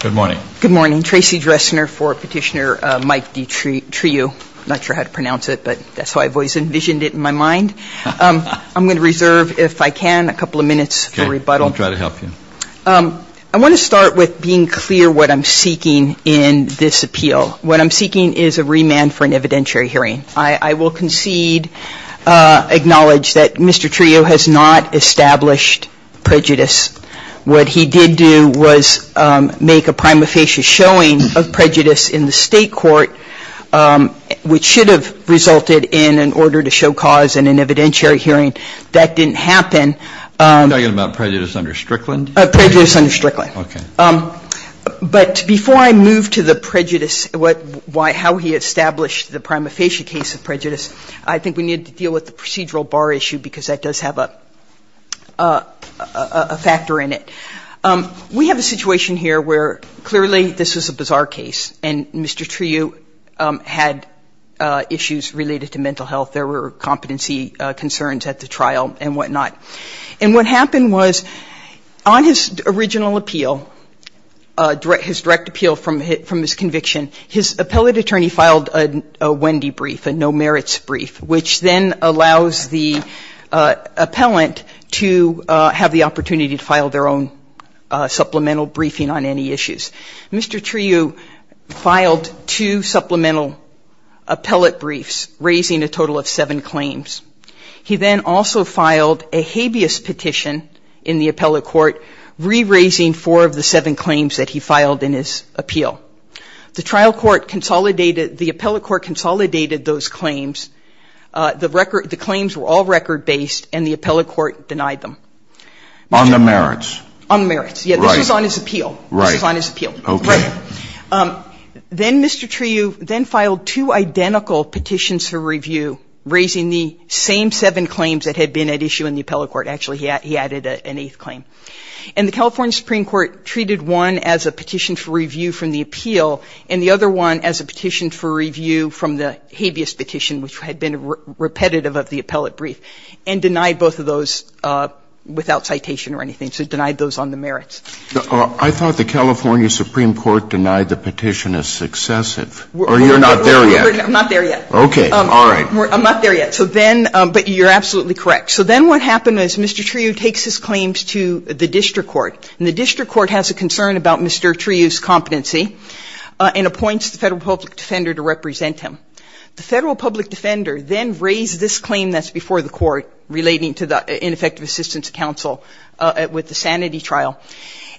Good morning. Good morning. Tracy Dressner for Petitioner Mike Du Trieu. I'm not sure how to pronounce it, but that's how I've always envisioned it in my mind. I'm going to reserve, if I can, a couple of minutes for rebuttal. Okay. I'll try to help you. I want to start with being clear what I'm seeking in this appeal. What I'm seeking is a remand for an evidentiary hearing. I will concede, acknowledge that Mr. Trieu has not established prejudice. What he did do was make a prima facie showing of prejudice in the state court, which should have resulted in an order to show cause in an evidentiary hearing. That didn't happen. You're talking about prejudice under Strickland? Prejudice under Strickland. Okay. But before I move to the prejudice, how he established the prima facie case of prejudice, I think we need to deal with the procedural bar issue because that does have a factor in it. We have a situation here where clearly this is a bizarre case, and Mr. Trieu had issues related to mental health. There were competency concerns at the trial and whatnot. And what happened was on his original appeal, his direct appeal from his conviction, his appellate attorney filed a Wendy brief, a no merits brief, which then allows the appellant to have the opportunity to file their own supplemental briefing on any issues. Mr. Trieu filed two supplemental appellate briefs, raising a total of seven claims. He then also filed a habeas petition in the appellate court, re-raising four of the seven claims that he filed in his appeal. The trial court consolidated, the appellate court consolidated those claims. The claims were all record-based, and the appellate court denied them. On the merits. On the merits. Right. Yeah, this was on his appeal. Right. This was on his appeal. Okay. Right. Then Mr. Trieu then filed two identical petitions for review, raising the same seven claims that had been at issue in the appellate court. Actually, he added an eighth claim. And the California Supreme Court treated one as a petition for review from the appeal and the other one as a petition for review from the habeas petition, which had been repetitive of the appellate brief, and denied both of those without citation or anything. So it denied those on the merits. I thought the California Supreme Court denied the petition as successive. Or you're not there yet. I'm not there yet. Okay. All right. I'm not there yet. So then, but you're absolutely correct. So then what happened is Mr. Trieu takes his claims to the district court. And the district court has a concern about Mr. Trieu's competency and appoints the Federal Public Defender to represent him. The Federal Public Defender then raised this claim that's before the court relating to the ineffective assistance counsel with the sanity trial.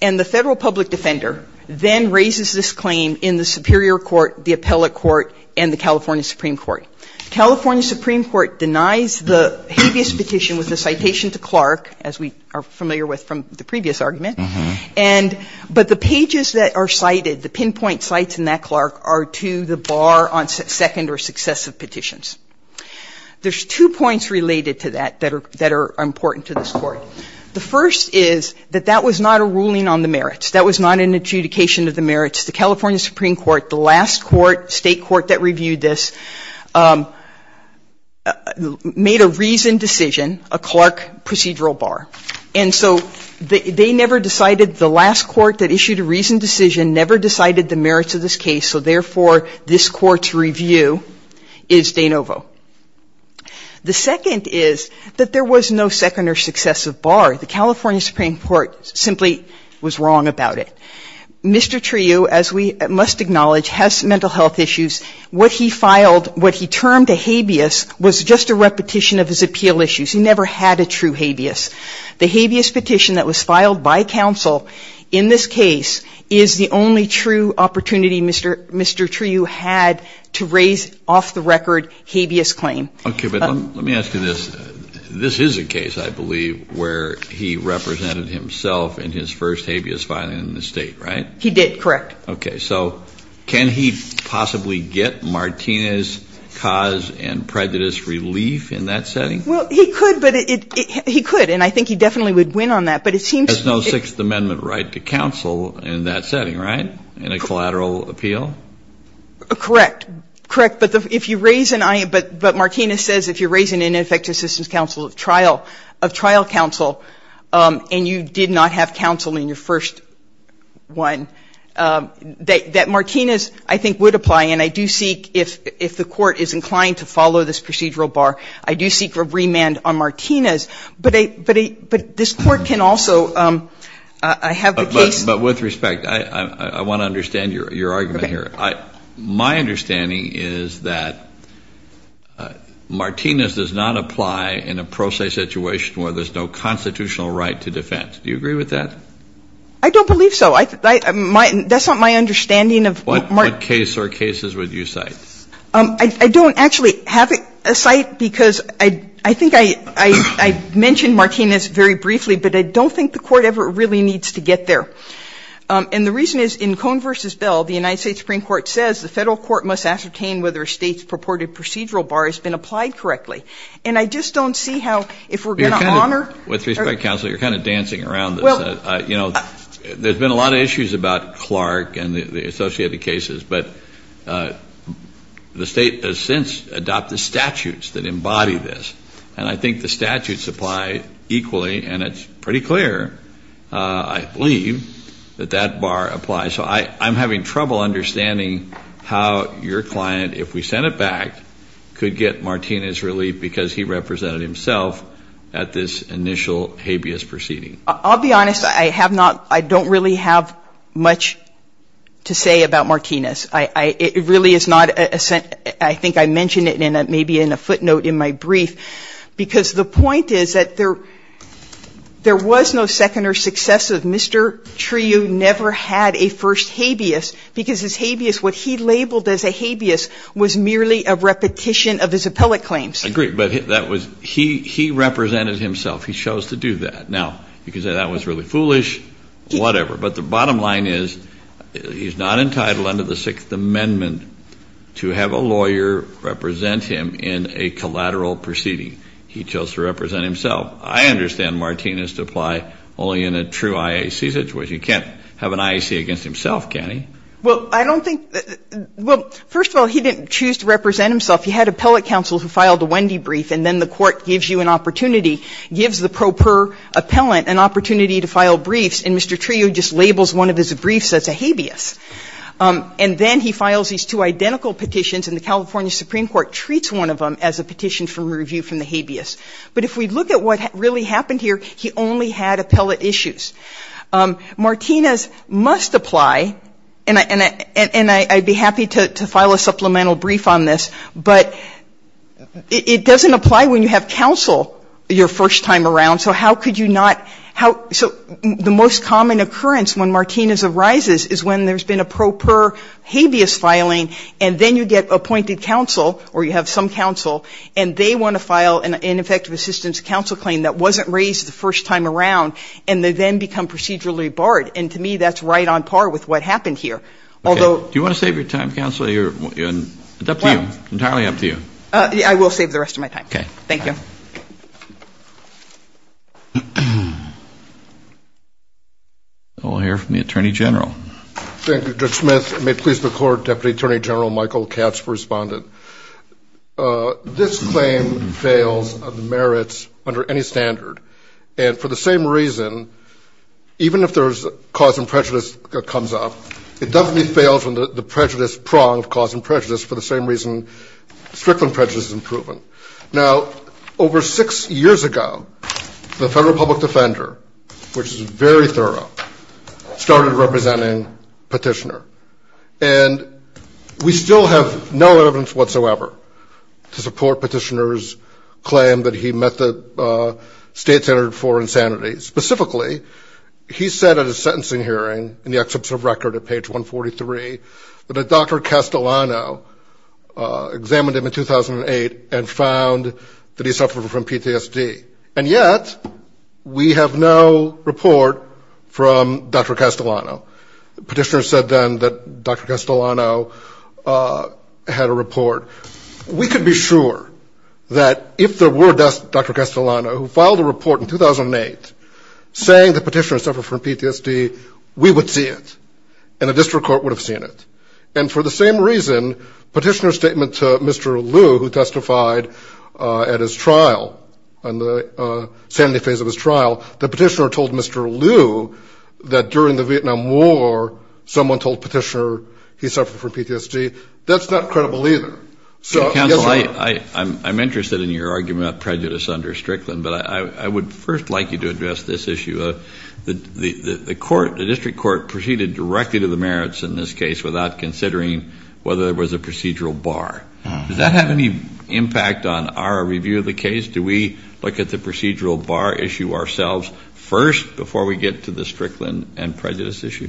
And the Federal Public Defender then raises this claim in the superior court, the appellate court, and the California Supreme Court. California Supreme Court denies the habeas petition with the citation to Clark, as we are familiar with from the previous argument. And but the pages that are cited, the pinpoint sites in that, Clark, are to the bar on second or successive petitions. There's two points related to that that are important to this Court. The first is that that was not a ruling on the merits. That was not an adjudication of the merits. The California Supreme Court, the last court, state court that reviewed this, made a reasoned decision, a Clark procedural bar. And so they never decided, the last court that issued a reasoned decision never decided the merits of this case, so therefore this Court's review is de novo. The second is that there was no second or successive bar. The California Supreme Court simply was wrong about it. Mr. Trujillo, as we must acknowledge, has mental health issues. What he filed, what he termed a habeas, was just a repetition of his appeal issues. He never had a true habeas. The habeas petition that was filed by counsel in this case is the only true opportunity Mr. Trujillo had to raise off the record habeas claim. Kennedy, let me ask you this. This is a case, I believe, where he represented himself in his first habeas filing in the State, right? He did, correct. Okay. So can he possibly get Martinez's cause and prejudice relief in that setting? Well, he could, but it he could. And I think he definitely would win on that. But it seems to me that There's no Sixth Amendment right to counsel in that setting, right, in a collateral appeal? Correct. Correct. But if you raise an, but Martinez says if you're raising an ineffective assistance counsel of trial, of trial counsel, and you did not have counsel in your first one, that Martinez, I think, would apply. And I do seek, if the Court is inclined to follow this procedural bar, I do seek a remand on Martinez. But this Court can also have the case But with respect, I want to understand your argument here. Okay. My understanding is that Martinez does not apply in a pro se situation where there's no constitutional right to defense. Do you agree with that? I don't believe so. That's not my understanding of What case or cases would you cite? I don't actually have a cite because I think I mentioned Martinez very briefly, but I don't think the Court ever really needs to get there. And the reason is in Cohn v. Bell, the United States Supreme Court says the federal court must ascertain whether a state's purported procedural bar has been applied correctly. And I just don't see how, if we're going to honor With respect, counsel, you're kind of dancing around this. You know, there's been a lot of issues about Clark and the associated cases, but the state has since adopted statutes that embody this. And I think the statutes apply equally. And it's pretty clear, I believe, that that bar applies. So I'm having trouble understanding how your client, if we sent it back, could get Martinez relief because he represented himself at this initial habeas proceeding. I'll be honest. I don't really have much to say about Martinez. I think I mentioned it maybe in a footnote in my brief because the point is that there was no second or successive. Mr. Trudeau never had a first habeas because his habeas, what he labeled as a habeas was merely a repetition of his appellate claims. Agreed. But he represented himself. He chose to do that. Now, you can say that was really foolish, whatever. But the bottom line is he's not entitled under the Sixth Amendment to have a lawyer represent him in a collateral proceeding. He chose to represent himself. I understand Martinez to apply only in a true IAC. Which he can't have an IAC against himself, can he? Well, I don't think that — well, first of all, he didn't choose to represent himself. He had appellate counsel who filed a Wendy brief, and then the Court gives you an opportunity, gives the pro per appellant an opportunity to file briefs, and Mr. Trudeau just labels one of his briefs as a habeas. And then he files these two identical petitions, and the California Supreme Court treats one of them as a petition for review from the habeas. But if we look at what really happened here, he only had appellate issues. Martinez must apply, and I'd be happy to file a supplemental brief on this, but it doesn't apply when you have counsel your first time around. So how could you not — so the most common occurrence when Martinez arises is when there's been a pro per habeas filing, and then you get appointed counsel, or you have some counsel, and they want to file an ineffective assistance counsel claim that wasn't raised the first time around, and they then become procedurally barred. And to me, that's right on par with what happened here. Although — Okay. Do you want to save your time, counsel? It's up to you. Entirely up to you. I will save the rest of my time. Okay. Thank you. We'll hear from the Attorney General. Thank you, Judge Smith. May it please the Court, Deputy Attorney General Michael Katz, respondent. This claim fails on the merits under any standard, and for the same reason, even if there's cause and prejudice that comes up, it definitely fails on the prejudice prong of cause and prejudice for the same reason strickland prejudice isn't proven. Now, over six years ago, the federal public defender, which is very thorough, started representing Petitioner. And we still have no evidence whatsoever to support Petitioner's claim that he met the state standard for insanity. Specifically, he said at a sentencing hearing in the excerpt of record at page that he suffered from PTSD. And yet, we have no report from Dr. Castellano. Petitioner said then that Dr. Castellano had a report. We could be sure that if there were Dr. Castellano, who filed a report in 2008 saying that Petitioner suffered from PTSD, we would see it and the district court would have seen it. And for the same reason, Petitioner's statement to Mr. Liu, who testified at his trial, on the sanity phase of his trial, that Petitioner told Mr. Liu that during the Vietnam War, someone told Petitioner he suffered from PTSD, that's not credible either. So, yes or no? I'm interested in your argument about prejudice under strickland, but I would first like you to address this issue. The court, the district court, proceeded directly to the merits in this case without considering whether there was a procedural bar. Does that have any impact on our review of the case? Do we look at the procedural bar issue ourselves first before we get to the strickland and prejudice issue?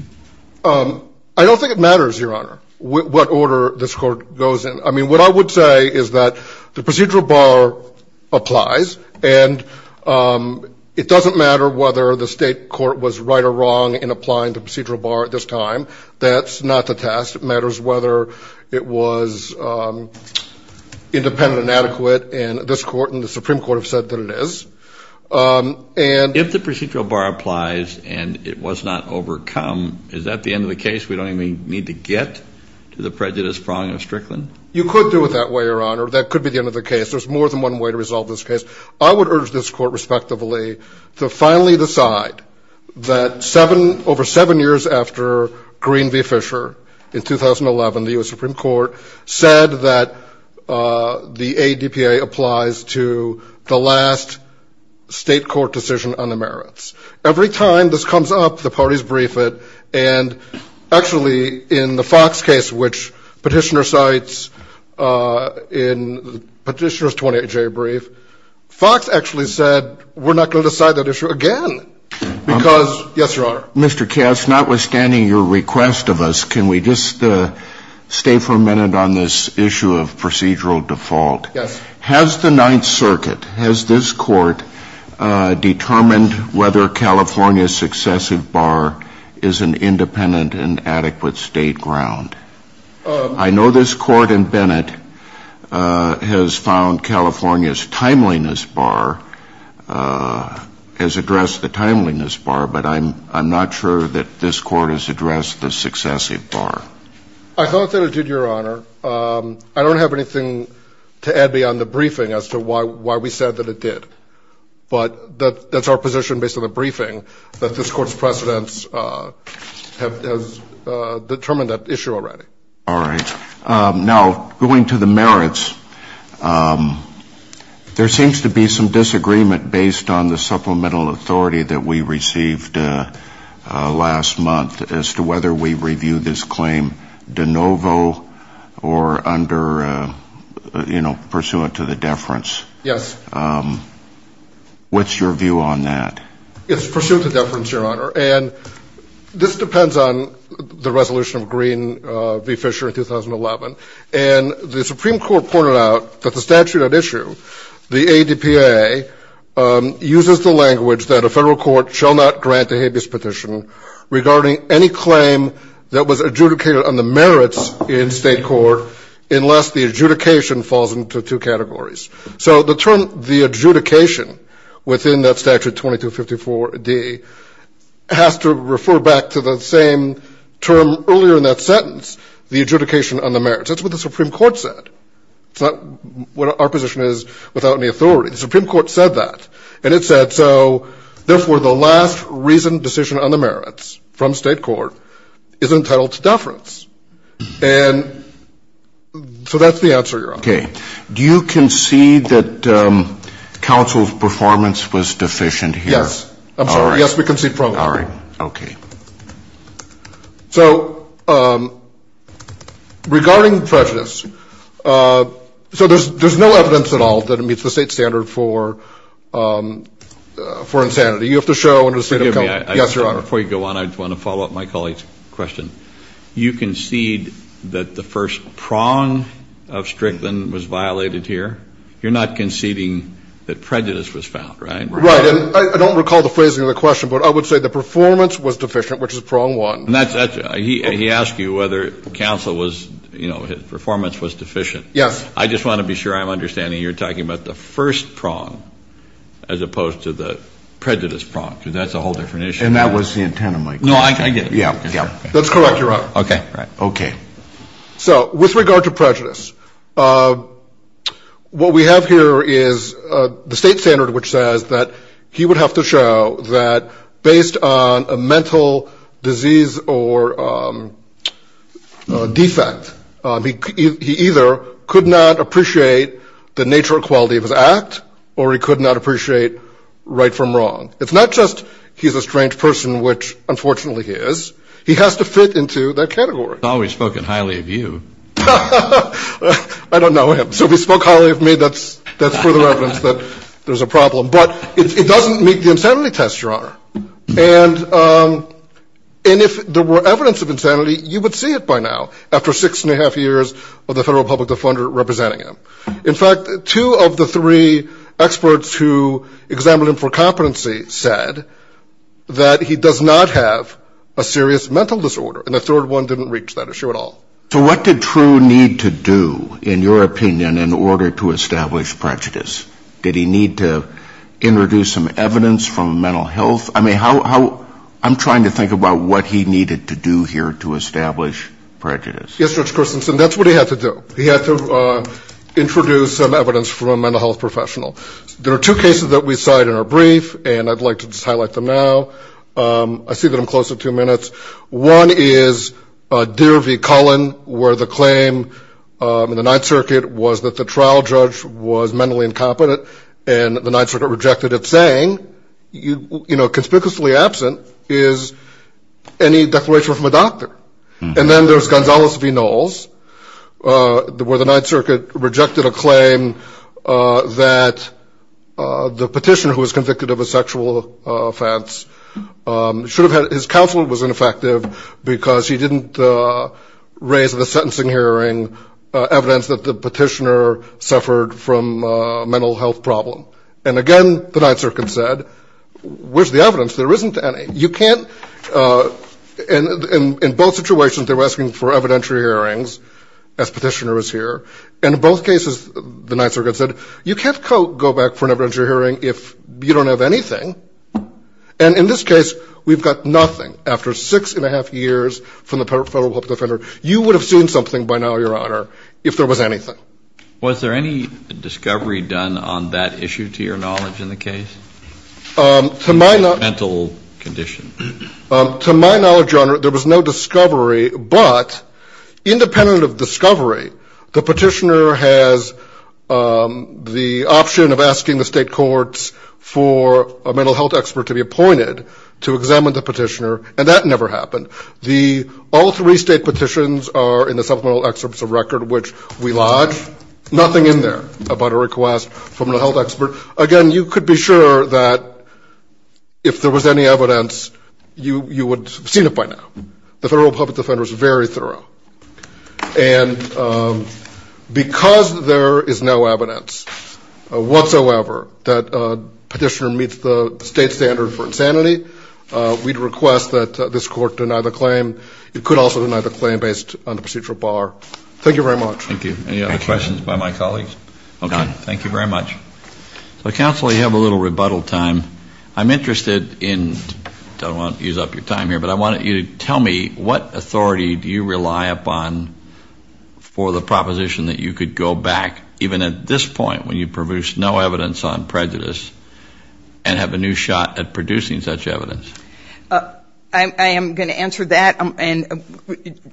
I don't think it matters, Your Honor, what order this court goes in. I mean, what I would say is that the procedural bar applies and it doesn't matter whether the state court was right or wrong in applying the procedural bar at this time. That's not the test. It matters whether it was independent and adequate, and this court and the Supreme Court have said that it is. If the procedural bar applies and it was not overcome, is that the end of the case? We don't even need to get to the prejudice, prong, and strickland? You could do it that way, Your Honor. That could be the end of the case. There's more than one way to resolve this case. I would urge this court, respectively, to finally decide that over seven years after Green v. Fisher in 2011, the U.S. Supreme Court said that the ADPA applies to the last state court decision on the merits. Every time this comes up, the parties brief it, and actually in the Fox case, which Petitioner cites in Petitioner's 28-J brief, Fox actually said we're not going to decide that issue again because, yes, Your Honor? Mr. Cass, notwithstanding your request of us, can we just stay for a minute on this issue of procedural default? Yes. Has the Ninth Circuit, has this court determined whether California's successive bar is an independent and adequate state ground? I know this court in Bennett has found California's timeliness bar has addressed the timeliness bar, but I'm not sure that this court has addressed the successive bar. I thought that it did, Your Honor. I don't have anything to add beyond the briefing as to why we said that it did. But that's our position based on the briefing, that this Court's precedents have determined that issue already. All right. Now, going to the merits, there seems to be some disagreement based on the supplemental authority that we received last month as to whether we review this claim de novo or under, you know, pursuant to the deference. Yes. What's your view on that? It's pursuant to deference, Your Honor. And this depends on the resolution of Green v. Fisher in 2011. And the Supreme Court pointed out that the statute at issue, the ADPA, uses the language that a federal court shall not grant a habeas petition regarding any claim that was adjudicated on the merits in state court unless the adjudication falls into two categories. So the term the adjudication within that statute 2254D has to refer back to the same term earlier in that sentence, the adjudication on the merits. That's what the Supreme Court said. It's not what our position is without any authority. The Supreme Court said that. And it said, so, therefore, the last reasoned decision on the merits from state court is entitled to deference. And so that's the answer, Your Honor. Okay. Do you concede that counsel's performance was deficient here? Yes. I'm sorry. Yes, we concede strongly. All right. Okay. So regarding prejudice, so there's no evidence at all that it meets the state standard for insanity. You have to show under the State of California. Yes, Your Honor. Before you go on, I just want to follow up my colleague's question. You concede that the first prong of Strickland was violated here. You're not conceding that prejudice was found, right? Right. And I don't recall the phrasing of the question, but I would say the performance was deficient, which is prong one. He asked you whether counsel was, you know, his performance was deficient. Yes. I just want to be sure I'm understanding you're talking about the first prong as opposed to the prejudice prong, because that's a whole different issue. And that was the intent of my question. No, I get it. Yeah, yeah. That's correct, Your Honor. Okay. Okay. So with regard to prejudice, what we have here is the state standard which says that he would have to show that based on a mental disease or defect, he either could not appreciate the nature or quality of his act, or he could not appreciate right from wrong. It's not just he's a strange person, which, unfortunately, he is. He has to fit into that category. He's always spoken highly of you. I don't know him. So if he spoke highly of me, that's further evidence that there's a problem. But it doesn't meet the insanity test, Your Honor. And if there were evidence of insanity, you would see it by now, after six and a half years of the Federal Public Defender representing him. In fact, two of the three experts who examined him for competency said that he does not have a serious mental disorder, and the third one didn't reach that issue at all. So what did True need to do, in your opinion, in order to establish prejudice? Did he need to introduce some evidence from mental health? I mean, how ‑‑ I'm trying to think about what he needed to do here to establish prejudice. Yes, Judge Christensen, that's what he had to do. He had to introduce some evidence from a mental health professional. There are two cases that we cite in our brief, and I'd like to just highlight them now. I see that I'm close to two minutes. One is Deer v. Cullen, where the claim in the Ninth Circuit was that the trial judge was mentally incompetent, and the Ninth Circuit rejected it, saying, you know, conspicuously absent is any declaration from a doctor. And then there's Gonzales v. Knowles, where the Ninth Circuit rejected a claim that the petitioner, who was convicted of a sexual offense, should have had ‑‑ his counsel was ineffective because he didn't raise in the sentencing hearing evidence that the petitioner suffered from a mental health problem. And again, the Ninth Circuit said, where's the evidence? There isn't any. You can't ‑‑ in both situations, they were asking for evidentiary hearings, as petitioner is here. And in both cases, the Ninth Circuit said, you can't go back for an evidentiary hearing if you don't have anything. And in this case, we've got nothing. After six and a half years from the federal public defender, you would have seen something by now, Your Honor, if there was anything. Was there any discovery done on that issue, to your knowledge, in the case? To my knowledge ‑‑ Mental condition. To my knowledge, Your Honor, there was no discovery, but independent of discovery, the petitioner has the option of asking the state courts for a mental health expert to be appointed to examine the petitioner, and that never happened. All three state petitions are in the supplemental excerpts of record, which we lodge. Nothing in there about a request from a health expert. Again, you could be sure that if there was any evidence, you would have seen it by now. The federal public defender is very thorough. And because there is no evidence whatsoever that a petitioner meets the state standard for insanity, we'd request that this court deny the claim. It could also deny the claim based on the procedural bar. Thank you very much. Thank you. Any other questions by my colleagues? None. Thank you very much. Counsel, you have a little rebuttal time. I'm interested in ‑‑ I don't want to use up your time here, but I wanted you to tell me what authority do you rely upon for the proposition that you could go back, even at this point when you produce no evidence on prejudice, and have a new shot at producing such evidence? I am going to answer that.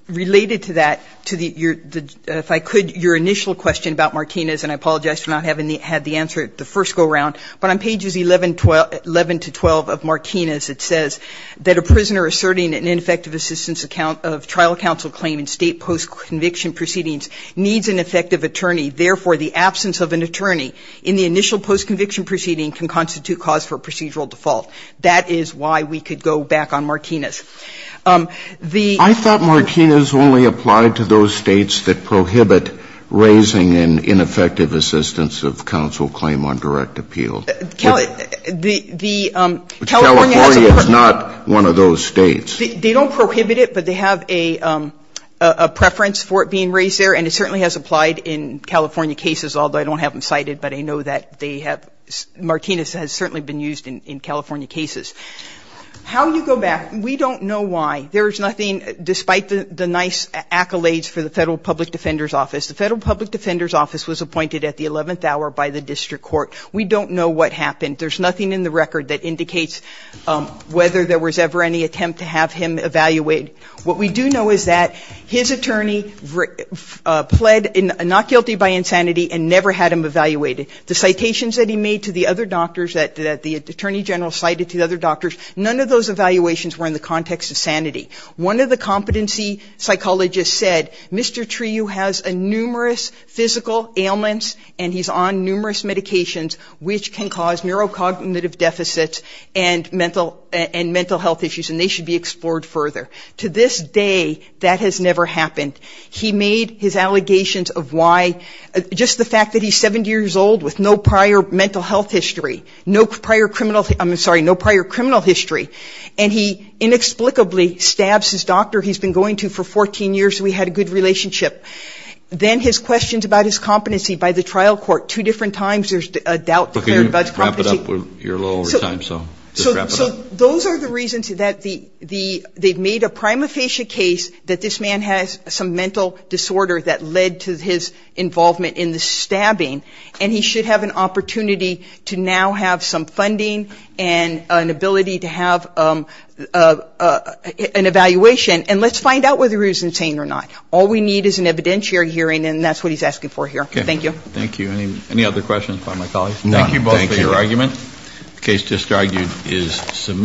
Related to that, if I could, your initial question about Martinez, and I apologize for not having had the answer the first go around, but on pages 11 to 12 of Martinez it says that a prisoner asserting an ineffective assistance account of trial counsel claim in state postconviction proceedings needs an effective attorney. Therefore, the absence of an attorney in the initial postconviction proceeding can constitute cause for procedural default. That is why we could go back on Martinez. The ‑‑ I thought Martinez only applied to those states that prohibit raising an ineffective assistance of counsel claim on direct appeal. California has a ‑‑ California is not one of those states. They don't prohibit it, but they have a preference for it being raised there, and it certainly has applied in California cases, although I don't have them cited, but I know that they have ‑‑ Martinez has certainly been used in California cases. How you go back, we don't know why. There is nothing, despite the nice accolades for the Federal Public Defender's Office, the Federal Public Defender's Office was appointed at the 11th hour by the district court. We don't know what happened. There is nothing in the record that indicates whether there was ever any attempt to have him evaluated. What we do know is that his attorney pled not guilty by insanity and never had him evaluated. The citations that he made to the other doctors, that the attorney general cited to the other doctors, none of those evaluations were in the context of sanity. One of the competency psychologists said, Mr. Trieu has numerous physical ailments and he's on numerous medications which can cause neurocognitive deficits and mental health issues, and they should be explored further. To this day, that has never happened. He made his allegations of why, just the fact that he's 70 years old with no prior mental health history, no prior criminal, I'm sorry, no prior criminal history, and he inexplicably stabs his doctor he's been going to for 14 years so he had a good relationship. Then his questions about his competency by the trial court. Two different times there's a doubt declared about his competency. You're a little over time, so just wrap it up. So those are the reasons that they've made a prima facie case that this man has some mental disorder that led to his involvement in the stabbing, and he should have an opportunity to now have some funding and an ability to have an evaluation, and let's find out whether he was insane or not. All we need is an evidentiary hearing, and that's what he's asking for here. Thank you. Thank you. Any other questions by my colleagues? None. Thank you both for your argument. The case just argued is submitted.